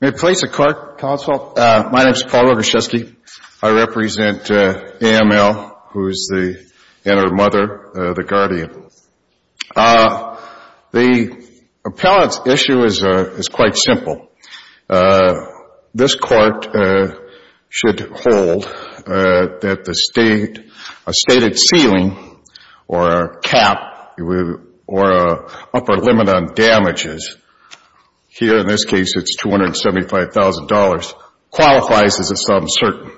May it please the Court, Counsel, my name is Paul Roguszewski. I represent A.M.L. and her mother, the Guardian. The appellant's issue is quite simple. This Court should hold that a stated ceiling or a cap or upper limit on damages, here in this case it's $275,000, qualifies as a sum certain.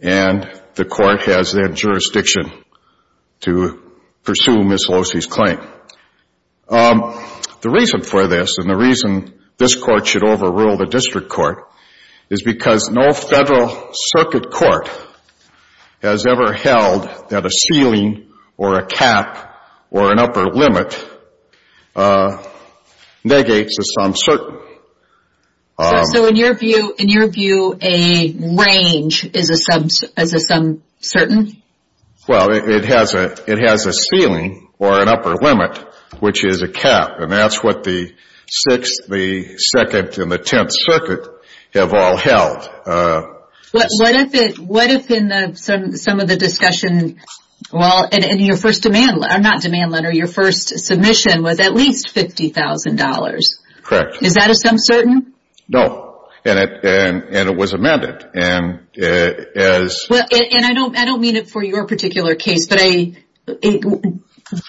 And the Court has that jurisdiction to pursue Ms. Losey's claim. The reason for this and the reason this Court should overrule the District Court is because no Federal Circuit Court has ever held that a ceiling or a cap or an upper limit negates a sum certain. So in your view, in your view, a range is a sum certain? Well, it has a ceiling or an upper limit, which is a cap, and that's what the 6th, the 2nd, and the 10th Circuit have all held. What if in some of the discussion, well, in your first demand letter, not demand letter, your first submission was at least $50,000? Correct. Is that a sum certain? No. And it was amended. Well, and I don't mean it for your particular case, but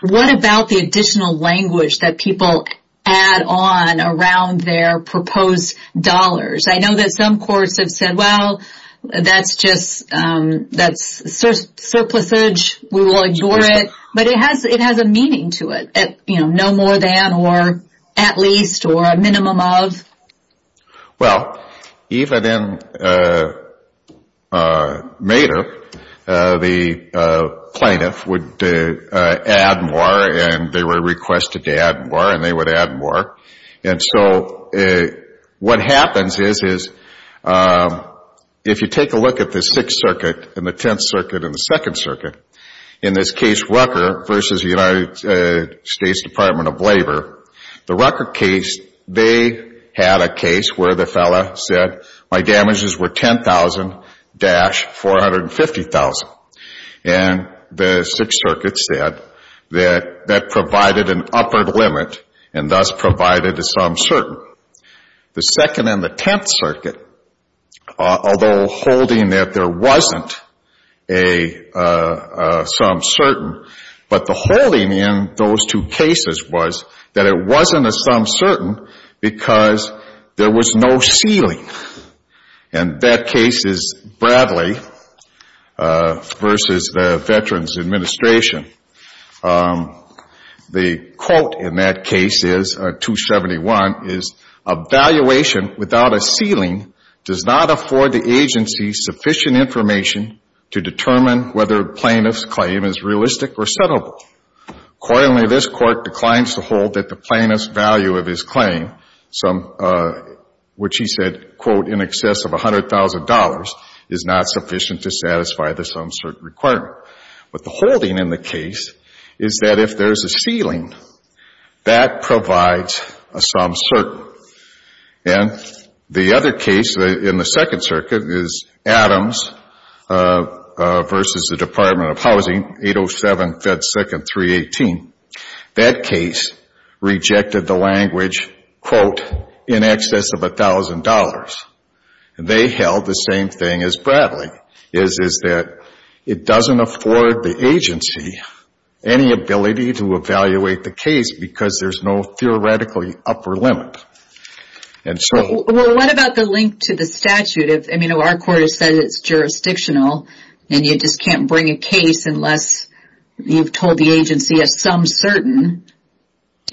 what about the additional language that people add on around their proposed dollars? I know that some Courts have said, well, that's just, that's surplusage, we will ignore it. But it has a meaning to it, you know, no more than or at least or a minimum of. Well, even in Madoff, the plaintiff would add more and they were requested to add more and they would add more. And so what happens is, is if you take a look at the 6th Circuit and the 10th Circuit and the 2nd Circuit, in this case, Rucker versus the United States Department of Labor, the Rucker case, they had a case where the fellow said, my damages were $10,000-$450,000. And the 6th Circuit said that that provided an upper limit and thus provided a sum certain. The 2nd and the 10th Circuit, although holding that there wasn't a sum certain, but the holding in those two cases was that it wasn't a sum certain because there was no ceiling. And that case is Bradley versus the Veterans Administration. The quote in that case is, 271, is, a valuation without a ceiling does not afford the agency sufficient information to determine whether a plaintiff's claim is realistic or settleable. Accordingly, this Court declines to hold that the plaintiff's value of his claim, which he said, quote, in excess of $100,000, is not sufficient to satisfy the sum certain requirement. But the holding in the case is that if there's a ceiling, that provides a sum certain. And the other case in the 2nd Circuit is Adams versus the Department of Housing, 807 Fed Second 318. That case rejected the language, quote, in excess of $1,000. And they held the same thing as Bradley, is that it doesn't afford the agency any ability to evaluate the case because there's no theoretically upper limit. Well, what about the link to the statute? I mean, our Court has said it's jurisdictional and you just can't bring a case unless you've told the agency a sum certain.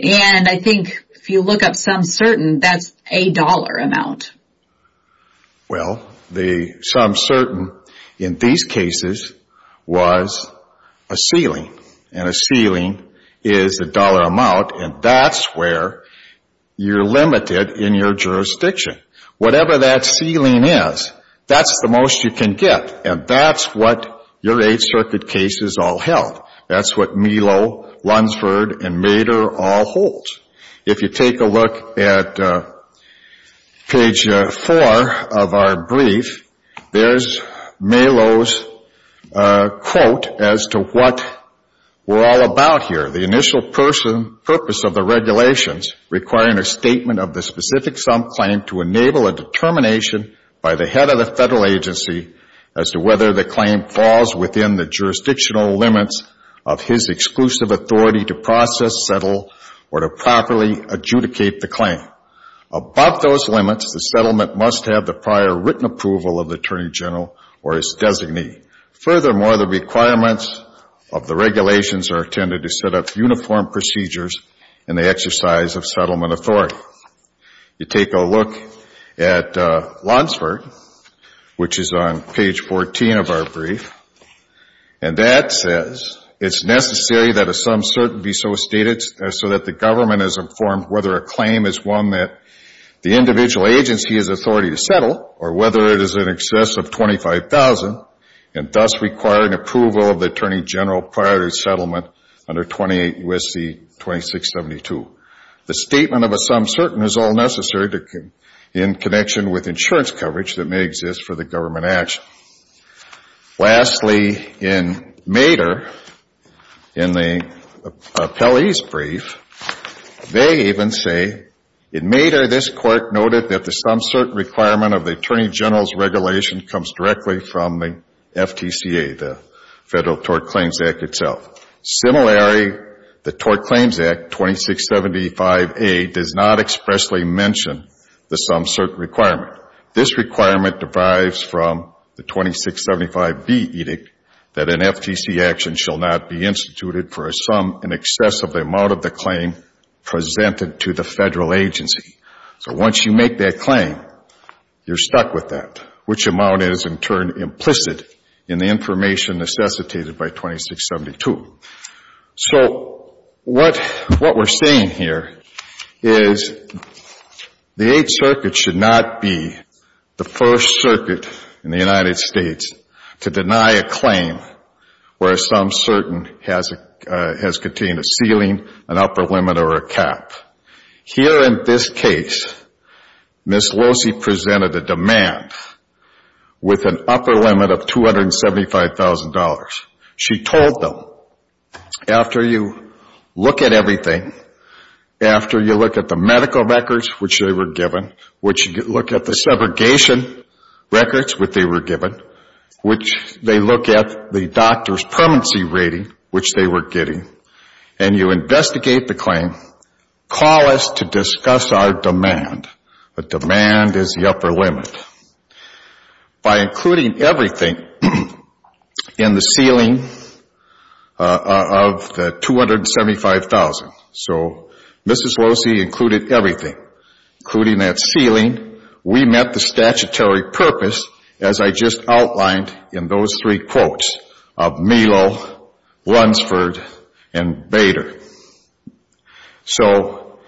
And I think if you look up sum certain, that's a dollar amount. Well, the sum certain in these cases was a ceiling. And a ceiling is a dollar amount, and that's where you're limited in your jurisdiction. Whatever that ceiling is, that's the most you can get. And that's what your 8th Circuit cases all held. That's what Melo, Lunsford, and Mader all hold. If you take a look at page 4 of our brief, there's Melo's quote as to what we're all about here. The initial purpose of the regulations requiring a statement of the specific sum claim to enable a determination by the head of the Federal agency as to whether the claim falls within the jurisdictional limits of his exclusive authority to process, settle, or to properly adjudicate the claim. Above those limits, the settlement must have the prior written approval of the Attorney General or his designee. Furthermore, the requirements of the regulations are intended to set up uniform procedures in the exercise of settlement authority. You take a look at Lunsford, which is on page 14 of our brief, and that says it's necessary that a sum certain be so stated so that the government is informed whether a claim is one that the individual agency has authority to settle or whether it is in excess of $25,000 and thus require an approval of the Attorney General prior to settlement under 28 U.S.C. 2672. The statement of a sum certain is all necessary in connection with insurance coverage that may exist for the government action. Lastly, in Mader, in the appellee's brief, they even say, in Mader, this court noted that the sum certain requirement of the Attorney General's regulation comes directly from the FTCA, the Federal Tort Claims Act itself. Similarly, the Tort Claims Act 2675A does not expressly mention the sum certain requirement. This requirement derives from the 2675B edict that an FTC action shall not be instituted for a sum in excess of the amount of the claim presented to the Federal agency. So once you make that claim, you're stuck with that, which amount is in turn implicit in the information necessitated by 2672. So what we're saying here is the Eighth Circuit should not be the first circuit in the United States to deny a claim where a sum certain has contained a ceiling, an upper limit, or a cap. Here in this case, Ms. Losey presented a demand with an upper limit of $275,000. She told them, after you look at everything, after you look at the medical records, which they were given, which you look at the segregation records, which they were given, which they look at the doctor's permanency rating, which they were getting, and you investigate the claim, call us to discuss our demand. The demand is the upper limit. By including everything in the ceiling of the $275,000, so Ms. Losey included everything, including that ceiling, we met the statutory purpose, as I just outlined in those three quotes, of Melo, Lunsford, and Bader. So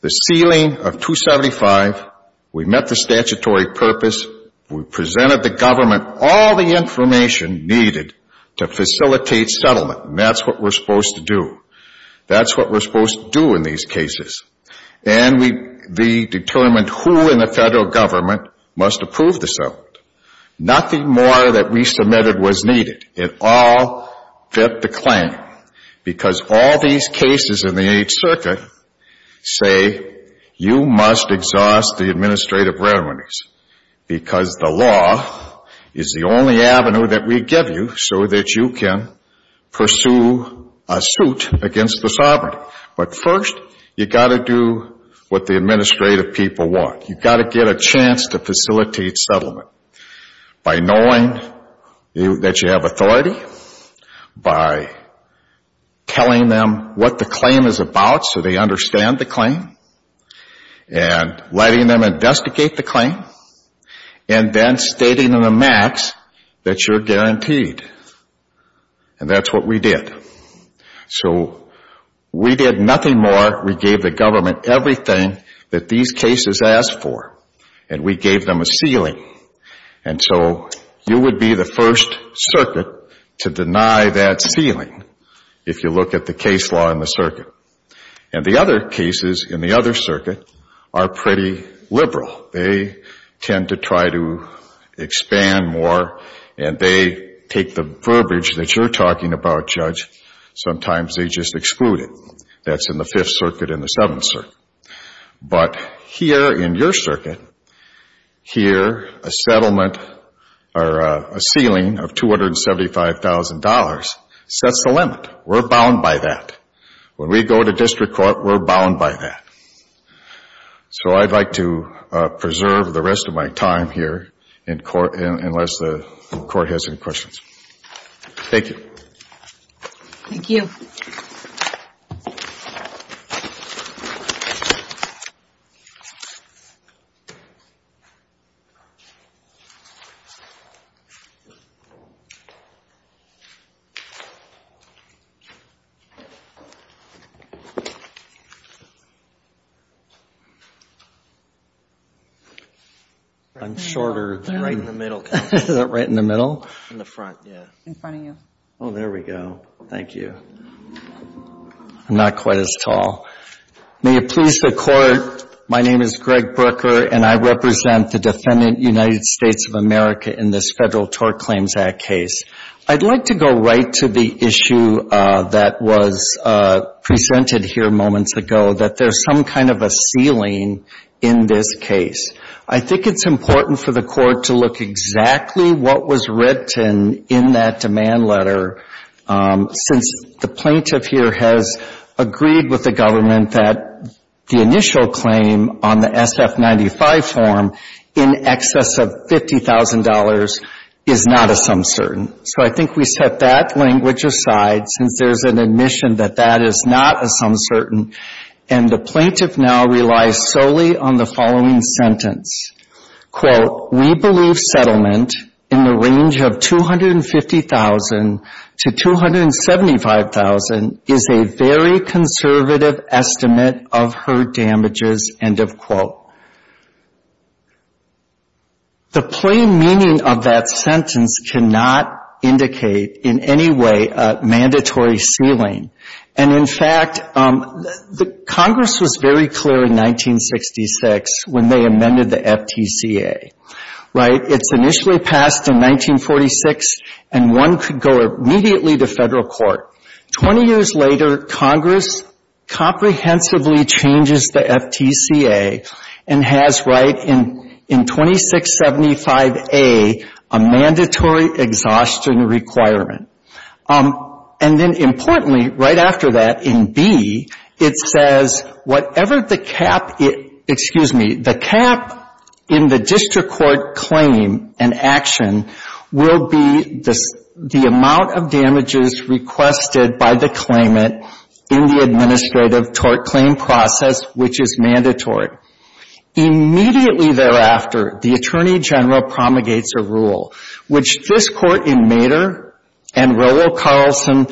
the ceiling of $275,000, we met the statutory purpose, we presented the government all the information needed to facilitate settlement, and that's what we're supposed to do. That's what we're supposed to do in these cases. And we determined who in the federal government must approve the settlement. Nothing more that we submitted was needed. It all fit the claim, because all these cases in the Eighth Circuit say you must exhaust the administrative remedies, because the law is the only avenue that we give you so that you can pursue a suit against the sovereignty. But first, you've got to do what the administrative people want. You've got to get a chance to facilitate settlement. By knowing that you have authority, by telling them what the claim is about so they understand the claim, and letting them investigate the claim, and then stating in a max that you're guaranteed. And that's what we did. So we did nothing more. We gave the government everything that these cases asked for. And we gave them a ceiling. And so you would be the first circuit to deny that ceiling if you look at the case law in the circuit. And the other cases in the other circuit are pretty liberal. They tend to try to expand more, and they take the verbiage that you're talking about, Judge, sometimes they just exclude it. That's in the Fifth Circuit and the Seventh Circuit. But here in your circuit, here a settlement or a ceiling of $275,000 sets the limit. We're bound by that. When we go to district court, we're bound by that. So I'd like to preserve the rest of my time here in court unless the court has any questions. Thank you. Thank you. Thank you. I'm shorter right in the middle. Right in the middle? In the front, yeah. In front of you. Oh, there we go. Thank you. I'm not quite as tall. May it please the court. My name is Greg Brooker, and I represent the defendant, United States of America, in this Federal Tort Claims Act case. I'd like to go right to the issue that was presented here moments ago, that there's some kind of a ceiling in this case. I think it's important for the court to look exactly what was written in that demand letter since the plaintiff here has agreed with the government that the initial claim on the SF-95 form in excess of $50,000 is not a some certain. So I think we set that language aside since there's an admission that that is not a some certain. And the plaintiff now relies solely on the following sentence. Quote, We believe settlement in the range of $250,000 to $275,000 is a very conservative estimate of her damages, end of quote. The plain meaning of that sentence cannot indicate in any way a mandatory ceiling. And in fact, Congress was very clear in 1966 when they amended the FTCA, right? It's initially passed in 1946 and one could go immediately to federal court. 20 years later, Congress comprehensively changes the FTCA and has right in 2675A a mandatory exhaustion requirement. And then importantly, right after that, in B, it says whatever the cap, excuse me, the cap in the district court claim and action will be the amount of damages requested by the claimant in the administrative tort claim process, which is mandatory. Immediately thereafter, the Attorney General promulgates a rule which this court in Mader and Rollo Carlson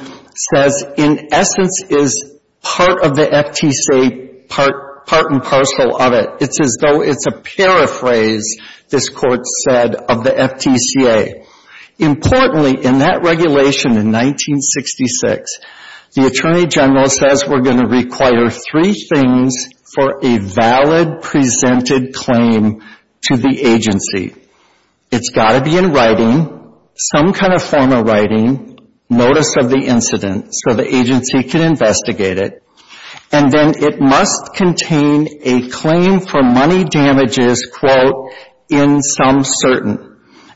says, in essence, is part of the FTCA, part and parcel of it. It's as though it's a paraphrase, this court said, of the FTCA. Importantly, in that regulation in 1966, the Attorney General says we're going to require three things for a valid presented claim to the agency. It's got to be in writing, some kind of form of writing, notice of the incident so the agency can investigate it, and then it must contain a claim for money damages, quote, in some certain.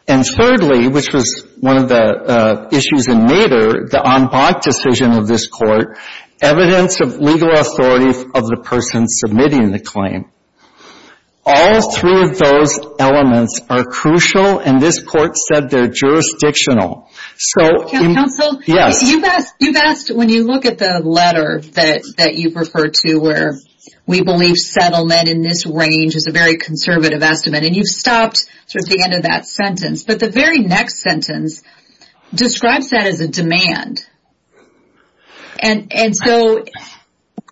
And thirdly, which was one of the issues in Mader, the en banc decision of this court, evidence of legal authority of the person submitting the claim. All three of those elements are crucial and this court said they're jurisdictional. Counsel, you've asked, when you look at the letter that you've referred to where we believe settlement in this range is a very conservative estimate, and you've stopped towards the end of that sentence, but the very next sentence describes that as a demand. And so,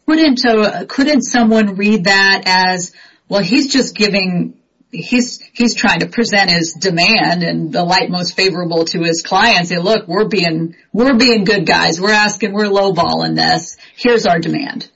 couldn't someone read that as, well, he's just giving, he's trying to present his demand in the light most favorable to his client, and say, look, we're being good guys. We're asking, we're lowballing this. Here's our demand.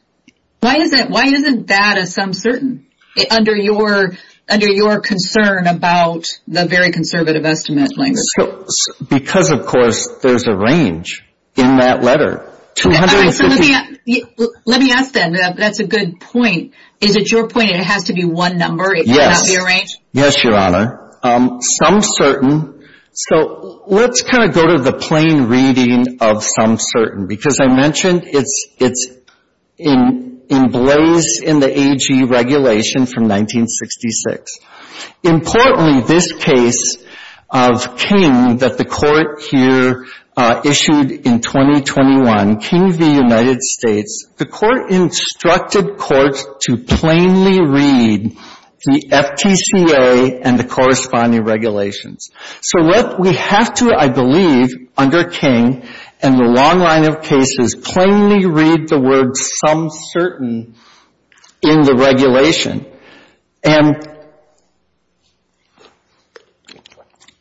Why isn't that as some certain under your concern about the very conservative estimate language? Because, of course, there's a range in that letter. All right, so let me ask then, that's a good point. Is it your point it has to be one number? Yes. It cannot be a range? Yes, Your Honor. Some certain, so let's kind of go to the plain reading of some certain, because I mentioned it's in blaze in the AG regulation from 1966. Importantly, this case of King that the court here issued in 2021, King v. United States, the court instructed court to plainly read the FTCA and the corresponding regulations. So what we have to, I believe, under King and the long line of cases, plainly read the word some certain in the regulation. And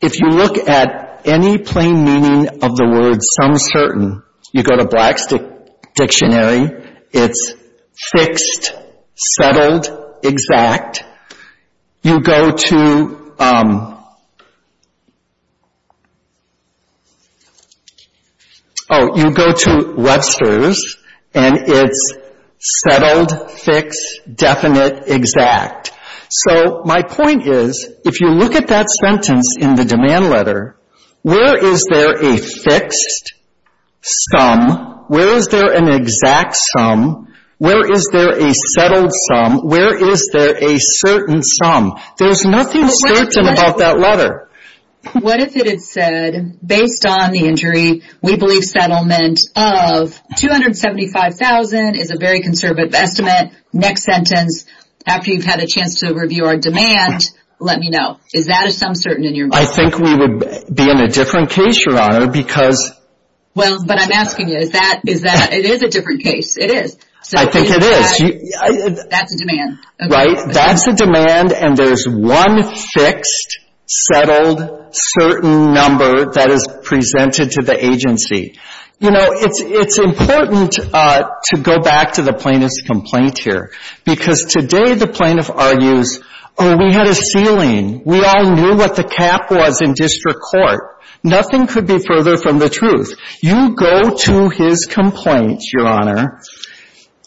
if you look at any plain meaning of the word some certain, you go to Black's dictionary. It's fixed, settled, exact. You go to, oh, you go to Webster's and it's settled, fixed, definite, exact. So my point is, if you look at that sentence in the demand letter, where is there a fixed sum? Where is there an exact sum? Where is there a settled sum? Where is there a certain sum? There's nothing certain about that letter. What if it had said, based on the injury, we believe settlement of $275,000 is a very conservative estimate. Next sentence, after you've had a chance to review our demand, let me know. Is that a sum certain in your mind? I think we would be in a different case, Your Honor, because... Well, but I'm asking you, is that, is that, it is a different case, it is. I think it is. That's a demand. Right? That's a demand and there's one fixed, settled, certain number that is presented to the agency. You know, it's important to go back to the plaintiff's complaint here, because today the plaintiff argues, oh, we had a ceiling. We all knew what the cap was in district court. Nothing could be further from the truth. You go to his complaint, Your Honor,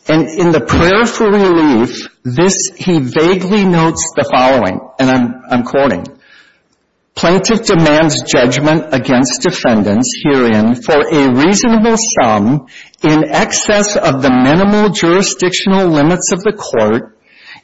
and in the prayer for relief, this, he vaguely notes the following, and I'm, I'm quoting, Plaintiff demands judgment against defendants herein for a reasonable sum in excess of the minimal jurisdictional limits of the court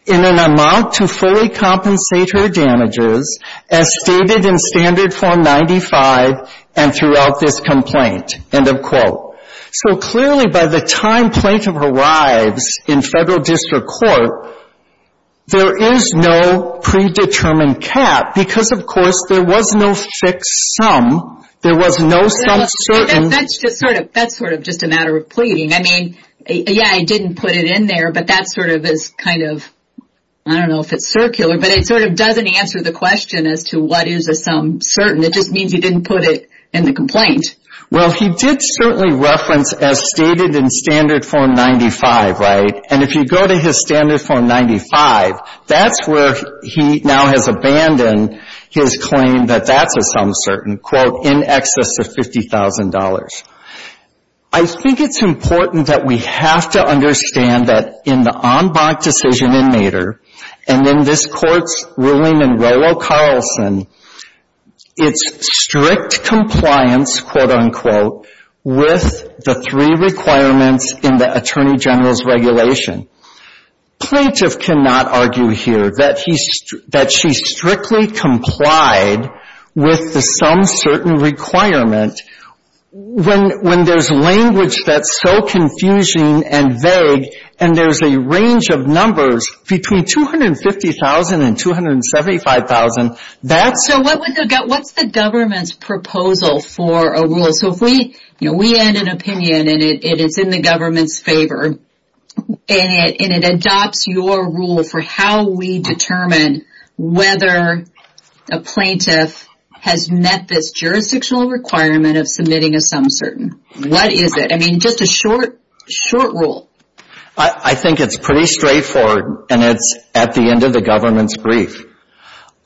in an amount to fully compensate her damages as stated in standard form 95 and throughout this complaint. End of quote. So clearly by the time plaintiff arrives in federal district court, there is no predetermined cap, because of course there was no fixed sum. There was no sum certain. That's just sort of, that's sort of just a matter of pleading. I mean, yeah, he didn't put it in there, but that sort of is kind of, I don't know if it's circular, but it sort of doesn't answer the question as to what is a sum certain. It just means he didn't put it in the complaint. Well, he did certainly reference as stated in standard form 95, right? And if you go to his standard form 95, that's where he now has abandoned his claim that that's a sum certain, quote, in excess of $50,000. I think it's important that we have to understand that in the en banc decision in Nader, and in this court's ruling in Rollo Carlson, it's strict compliance, quote, unquote, with the three requirements in the Attorney General's regulation. Plaintiff cannot argue here that she strictly complied with the sum certain requirement when there's language that's so confusing and vague, and there's a range of numbers between $250,000 and $275,000. So what's the government's proposal for a rule? So if we end an opinion and it's in the government's favor, and it adopts your rule for how we determine whether a plaintiff has met this jurisdictional requirement of submitting a sum certain, what is it? I mean, just a short rule. I think it's pretty straightforward, and it's at the end of the government's brief.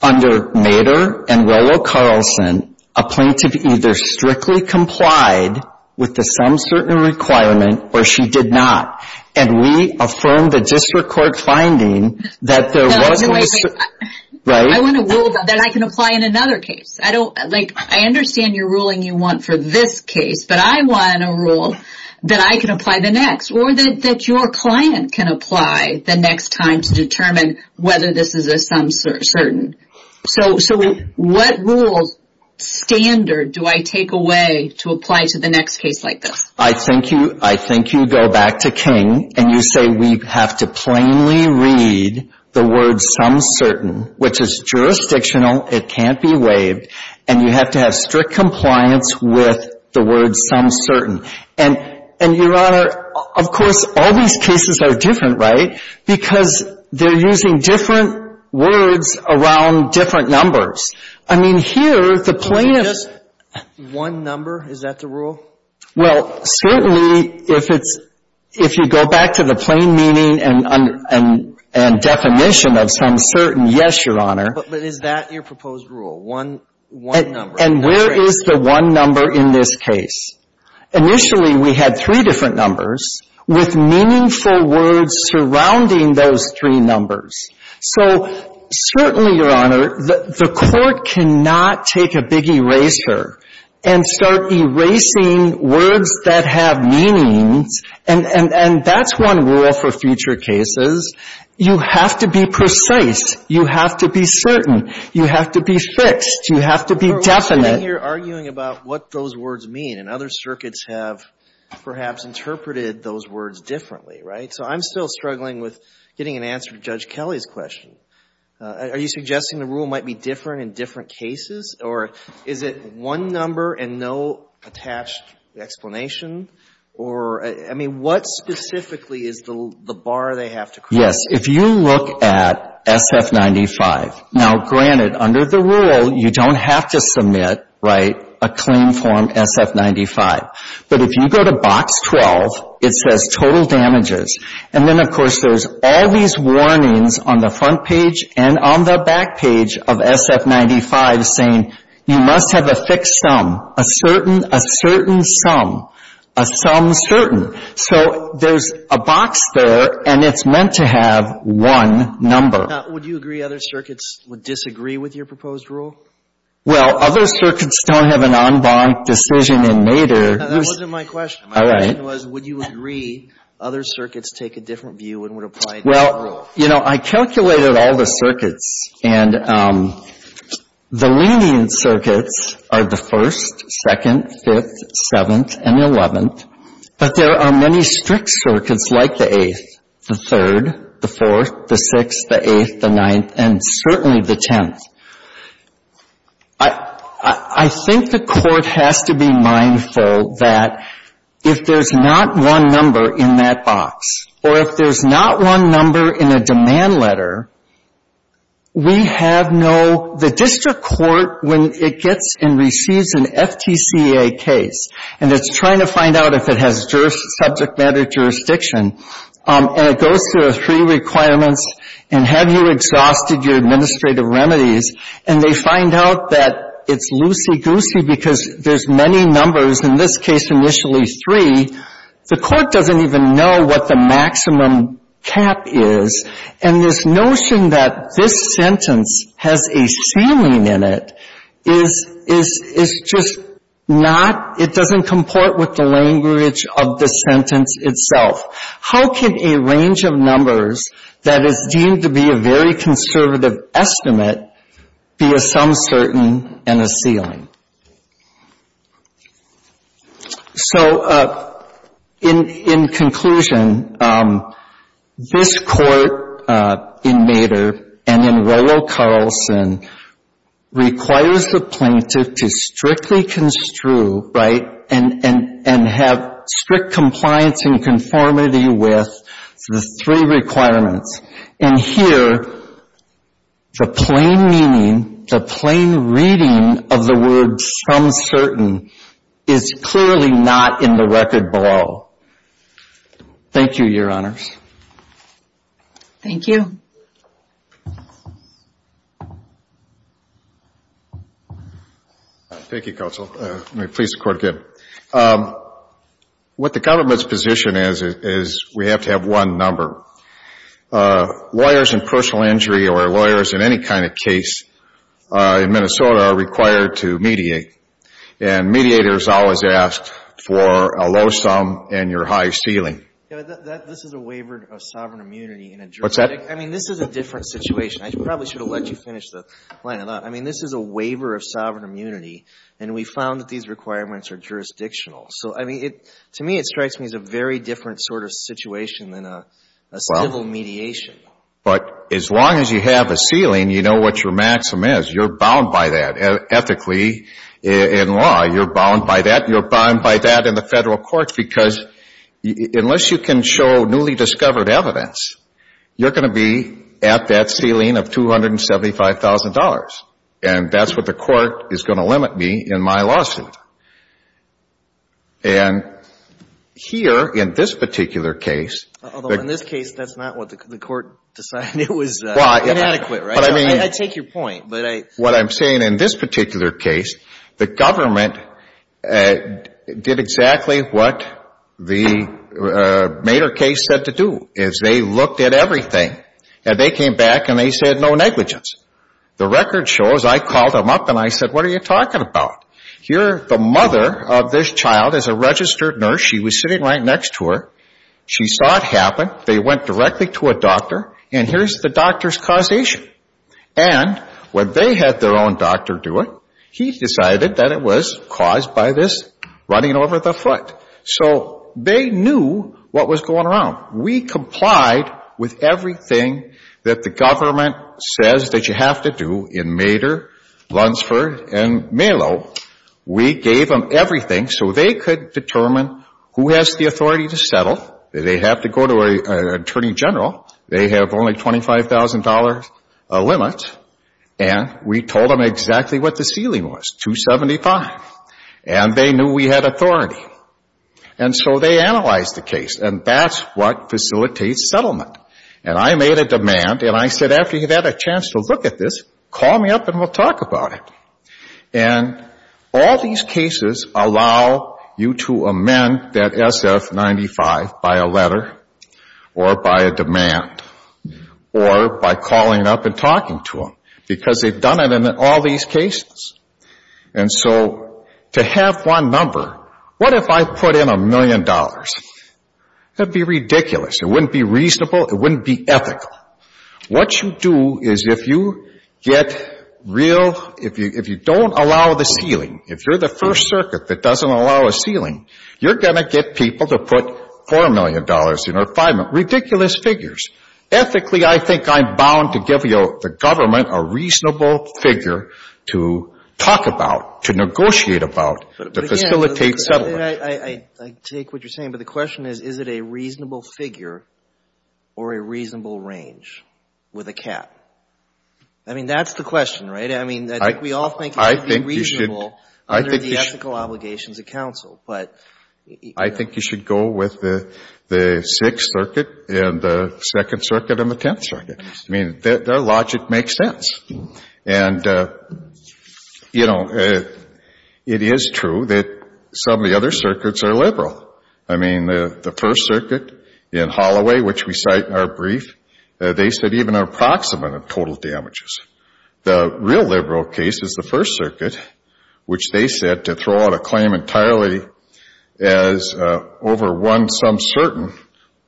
Under Nader and Rollo Carlson, a plaintiff either strictly complied with the sum certain requirement, or she did not. And we affirm the district court finding that there was no... I want a rule that I can apply in another case. I understand your ruling you want for this case, but I want a rule that I can apply the next, or that your client can apply the next time to determine whether this is a sum certain. So what rules, standard, do I take away to apply to the next case like this? I think you go back to King and you say we have to plainly read the word sum certain, which is jurisdictional, it can't be waived, and you have to have strict compliance with the word sum certain. And, Your Honor, of course, all these cases are different, right? Because they're using different words around different numbers. I mean, here, the plaintiff... Just one number, is that the rule? Well, certainly, if you go back to the plain meaning and definition of sum certain, yes, Your Honor. But is that your proposed rule, one number? And where is the one number in this case? Initially, we had three different numbers, with meaningful words surrounding those three numbers. So certainly, Your Honor, the court cannot take a big eraser and start erasing words that have meanings. And that's one rule for future cases. You have to be precise. You have to be certain. You have to be fixed. You have to be definite. You're arguing about what those words mean. And other circuits have perhaps interpreted those words differently, right? So I'm still struggling with getting an answer to Judge Kelly's question. Are you suggesting the rule might be different in different cases? Or is it one number and no attached explanation? Or, I mean, what specifically is the bar they have to cross? Yes. If you look at SF95, now, granted, under the rule, you don't have to submit, right, a claim form SF95. But if you go to box 12, it says total damages. And then, of course, there's all these warnings on the front page and on the back page of SF95 saying, you must have a fixed sum. A certain, a certain sum. A sum certain. So there's a box there, and it's meant to have one number. Now, would you agree other circuits would disagree with your proposed rule? Well, other circuits don't have an en banc decision in NADER. That wasn't my question. My question was, would you agree other circuits take a different view and would apply to your rule? Well, you know, I calculated all the circuits. And the lenient circuits are the 1st, 2nd, 5th, 7th, and 11th. But there are many strict circuits, like the 8th, the 3rd, the 4th, the 6th, the 8th, the 9th, and certainly the 10th. I think the court has to be mindful that if there's not one number in that box, or if there's not one number in a demand letter, we have no, the district court, when it gets and receives an FTCA case, and it's trying to find out if it has subject matter jurisdiction, and it goes through three requirements, and have you exhausted your administrative remedies, and they find out that it's loosey-goosey because there's many numbers, in this case initially three, the court doesn't even know what the maximum cap is. And this notion that this sentence has a sounding in it is just not, it doesn't comport with the language of the sentence itself. How can a range of numbers that is deemed to be a very conservative estimate be a some certain and a ceiling? So, in conclusion, this court in Mader and in Royal Carlson requires the plaintiff to strictly construe, right, and have strict compliance and conformity with the three requirements. And here, the plain meaning, the plain reading of the word some certain is clearly not in the record below. Thank you, Your Honors. Thank you. Thank you, Counsel. May it please the Court again. What the government's position is, is we have to have one number. Lawyers in personal injury or lawyers in any kind of case in Minnesota are required to mediate. And mediators always ask for a low sum and your high ceiling. This is a waiver of sovereign immunity What's that? I mean, this is a different situation. I probably should have let you finish the line. I mean, this is a waiver of sovereign immunity. And we found that these requirements are jurisdictional. To me, it strikes me as a very different situation than a civil mediation. But as long as you have a ceiling, you know what your maximum is. You're bound by that. Ethically, in law, you're bound by that. You're bound by that in the federal courts because unless you can show newly discovered evidence, you're going to be at that ceiling of $275,000. And that's what the court is going to limit me in my lawsuit. And here, in this particular case... In this case, that's not what the court decided. It was inadequate, right? I take your point, but I... What I'm saying in this particular case, the government did exactly what the Maeder case said to do. They looked at everything and they came back and they said, no negligence. The record shows, I called them up and I said, what are you talking about? Here, the mother of this child is a registered nurse. She was sitting right next to her. She saw it happen. They went directly to a doctor and here's the doctor's causation. And, when they had their own doctor do it, he decided that it was caused by this running over the foot. So, they knew what was going around. We complied with everything that the government says that you have to do in Maeder, Lunsford, and Malo. We gave them everything so they could determine who has the authority to settle. They have to go to an attorney general. They have only $25,000 limit. And, we told them exactly what the ceiling was, $275,000. And, they knew we had authority. And so, they analyzed the case and that's what facilitates settlement. And, I made a demand and I said, after you've had a chance to look at this, call me up and we'll talk about it. And, all these cases allow you to amend that SF-95 by a letter or by a demand or by calling up and talking to them because they've done it in all these cases. And so, to have one number what if I put in a million dollars? That'd be ridiculous. It wouldn't be reasonable. It wouldn't be ethical. What you do is if you get real, if you don't allow the ceiling, if you're the first circuit that doesn't allow a ceiling, you're going to get people to put $4 million in or $5 million. Ridiculous figures. Ethically, I think I'm bound to give the government a reasonable figure to talk about, to negotiate about, to facilitate settlement. I take what you're saying, but the question is, is it a reasonable figure or a reasonable range with a cap? I mean, that's the question, right? I mean, I think we all think it should be reasonable under the ethical obligations of counsel, but I think you should go with the Sixth Circuit and the Second Circuit and the Tenth Circuit. I mean, their logic makes sense. And you know, it is true that some of the other circuits are liberal. I mean, the First Circuit in Holloway, which we cite in our brief, they said even approximate total damages. The real liberal case is the First Circuit, which they said to throw out a claim entirely as over one some certain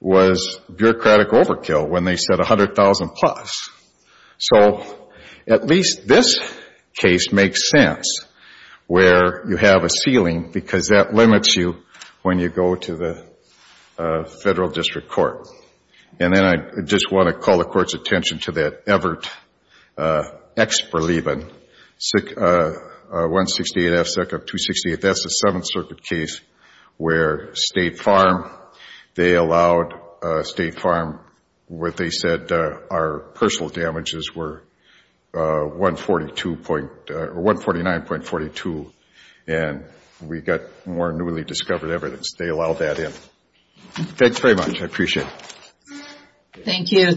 was bureaucratic overkill when they said $100,000 plus. So at least this case makes sense, where you have a ceiling, because that limits you when you go to the Federal District Court. And then I just want to call the Court's attention to that Everett Ex-Berleben 168F Sec. 268, that's the Seventh Circuit case where State Farm, they allowed State Farm what they said our personal damages were 149.42 and we got more newly discovered evidence. They allowed that in. Thanks very much. I appreciate it. Thank you.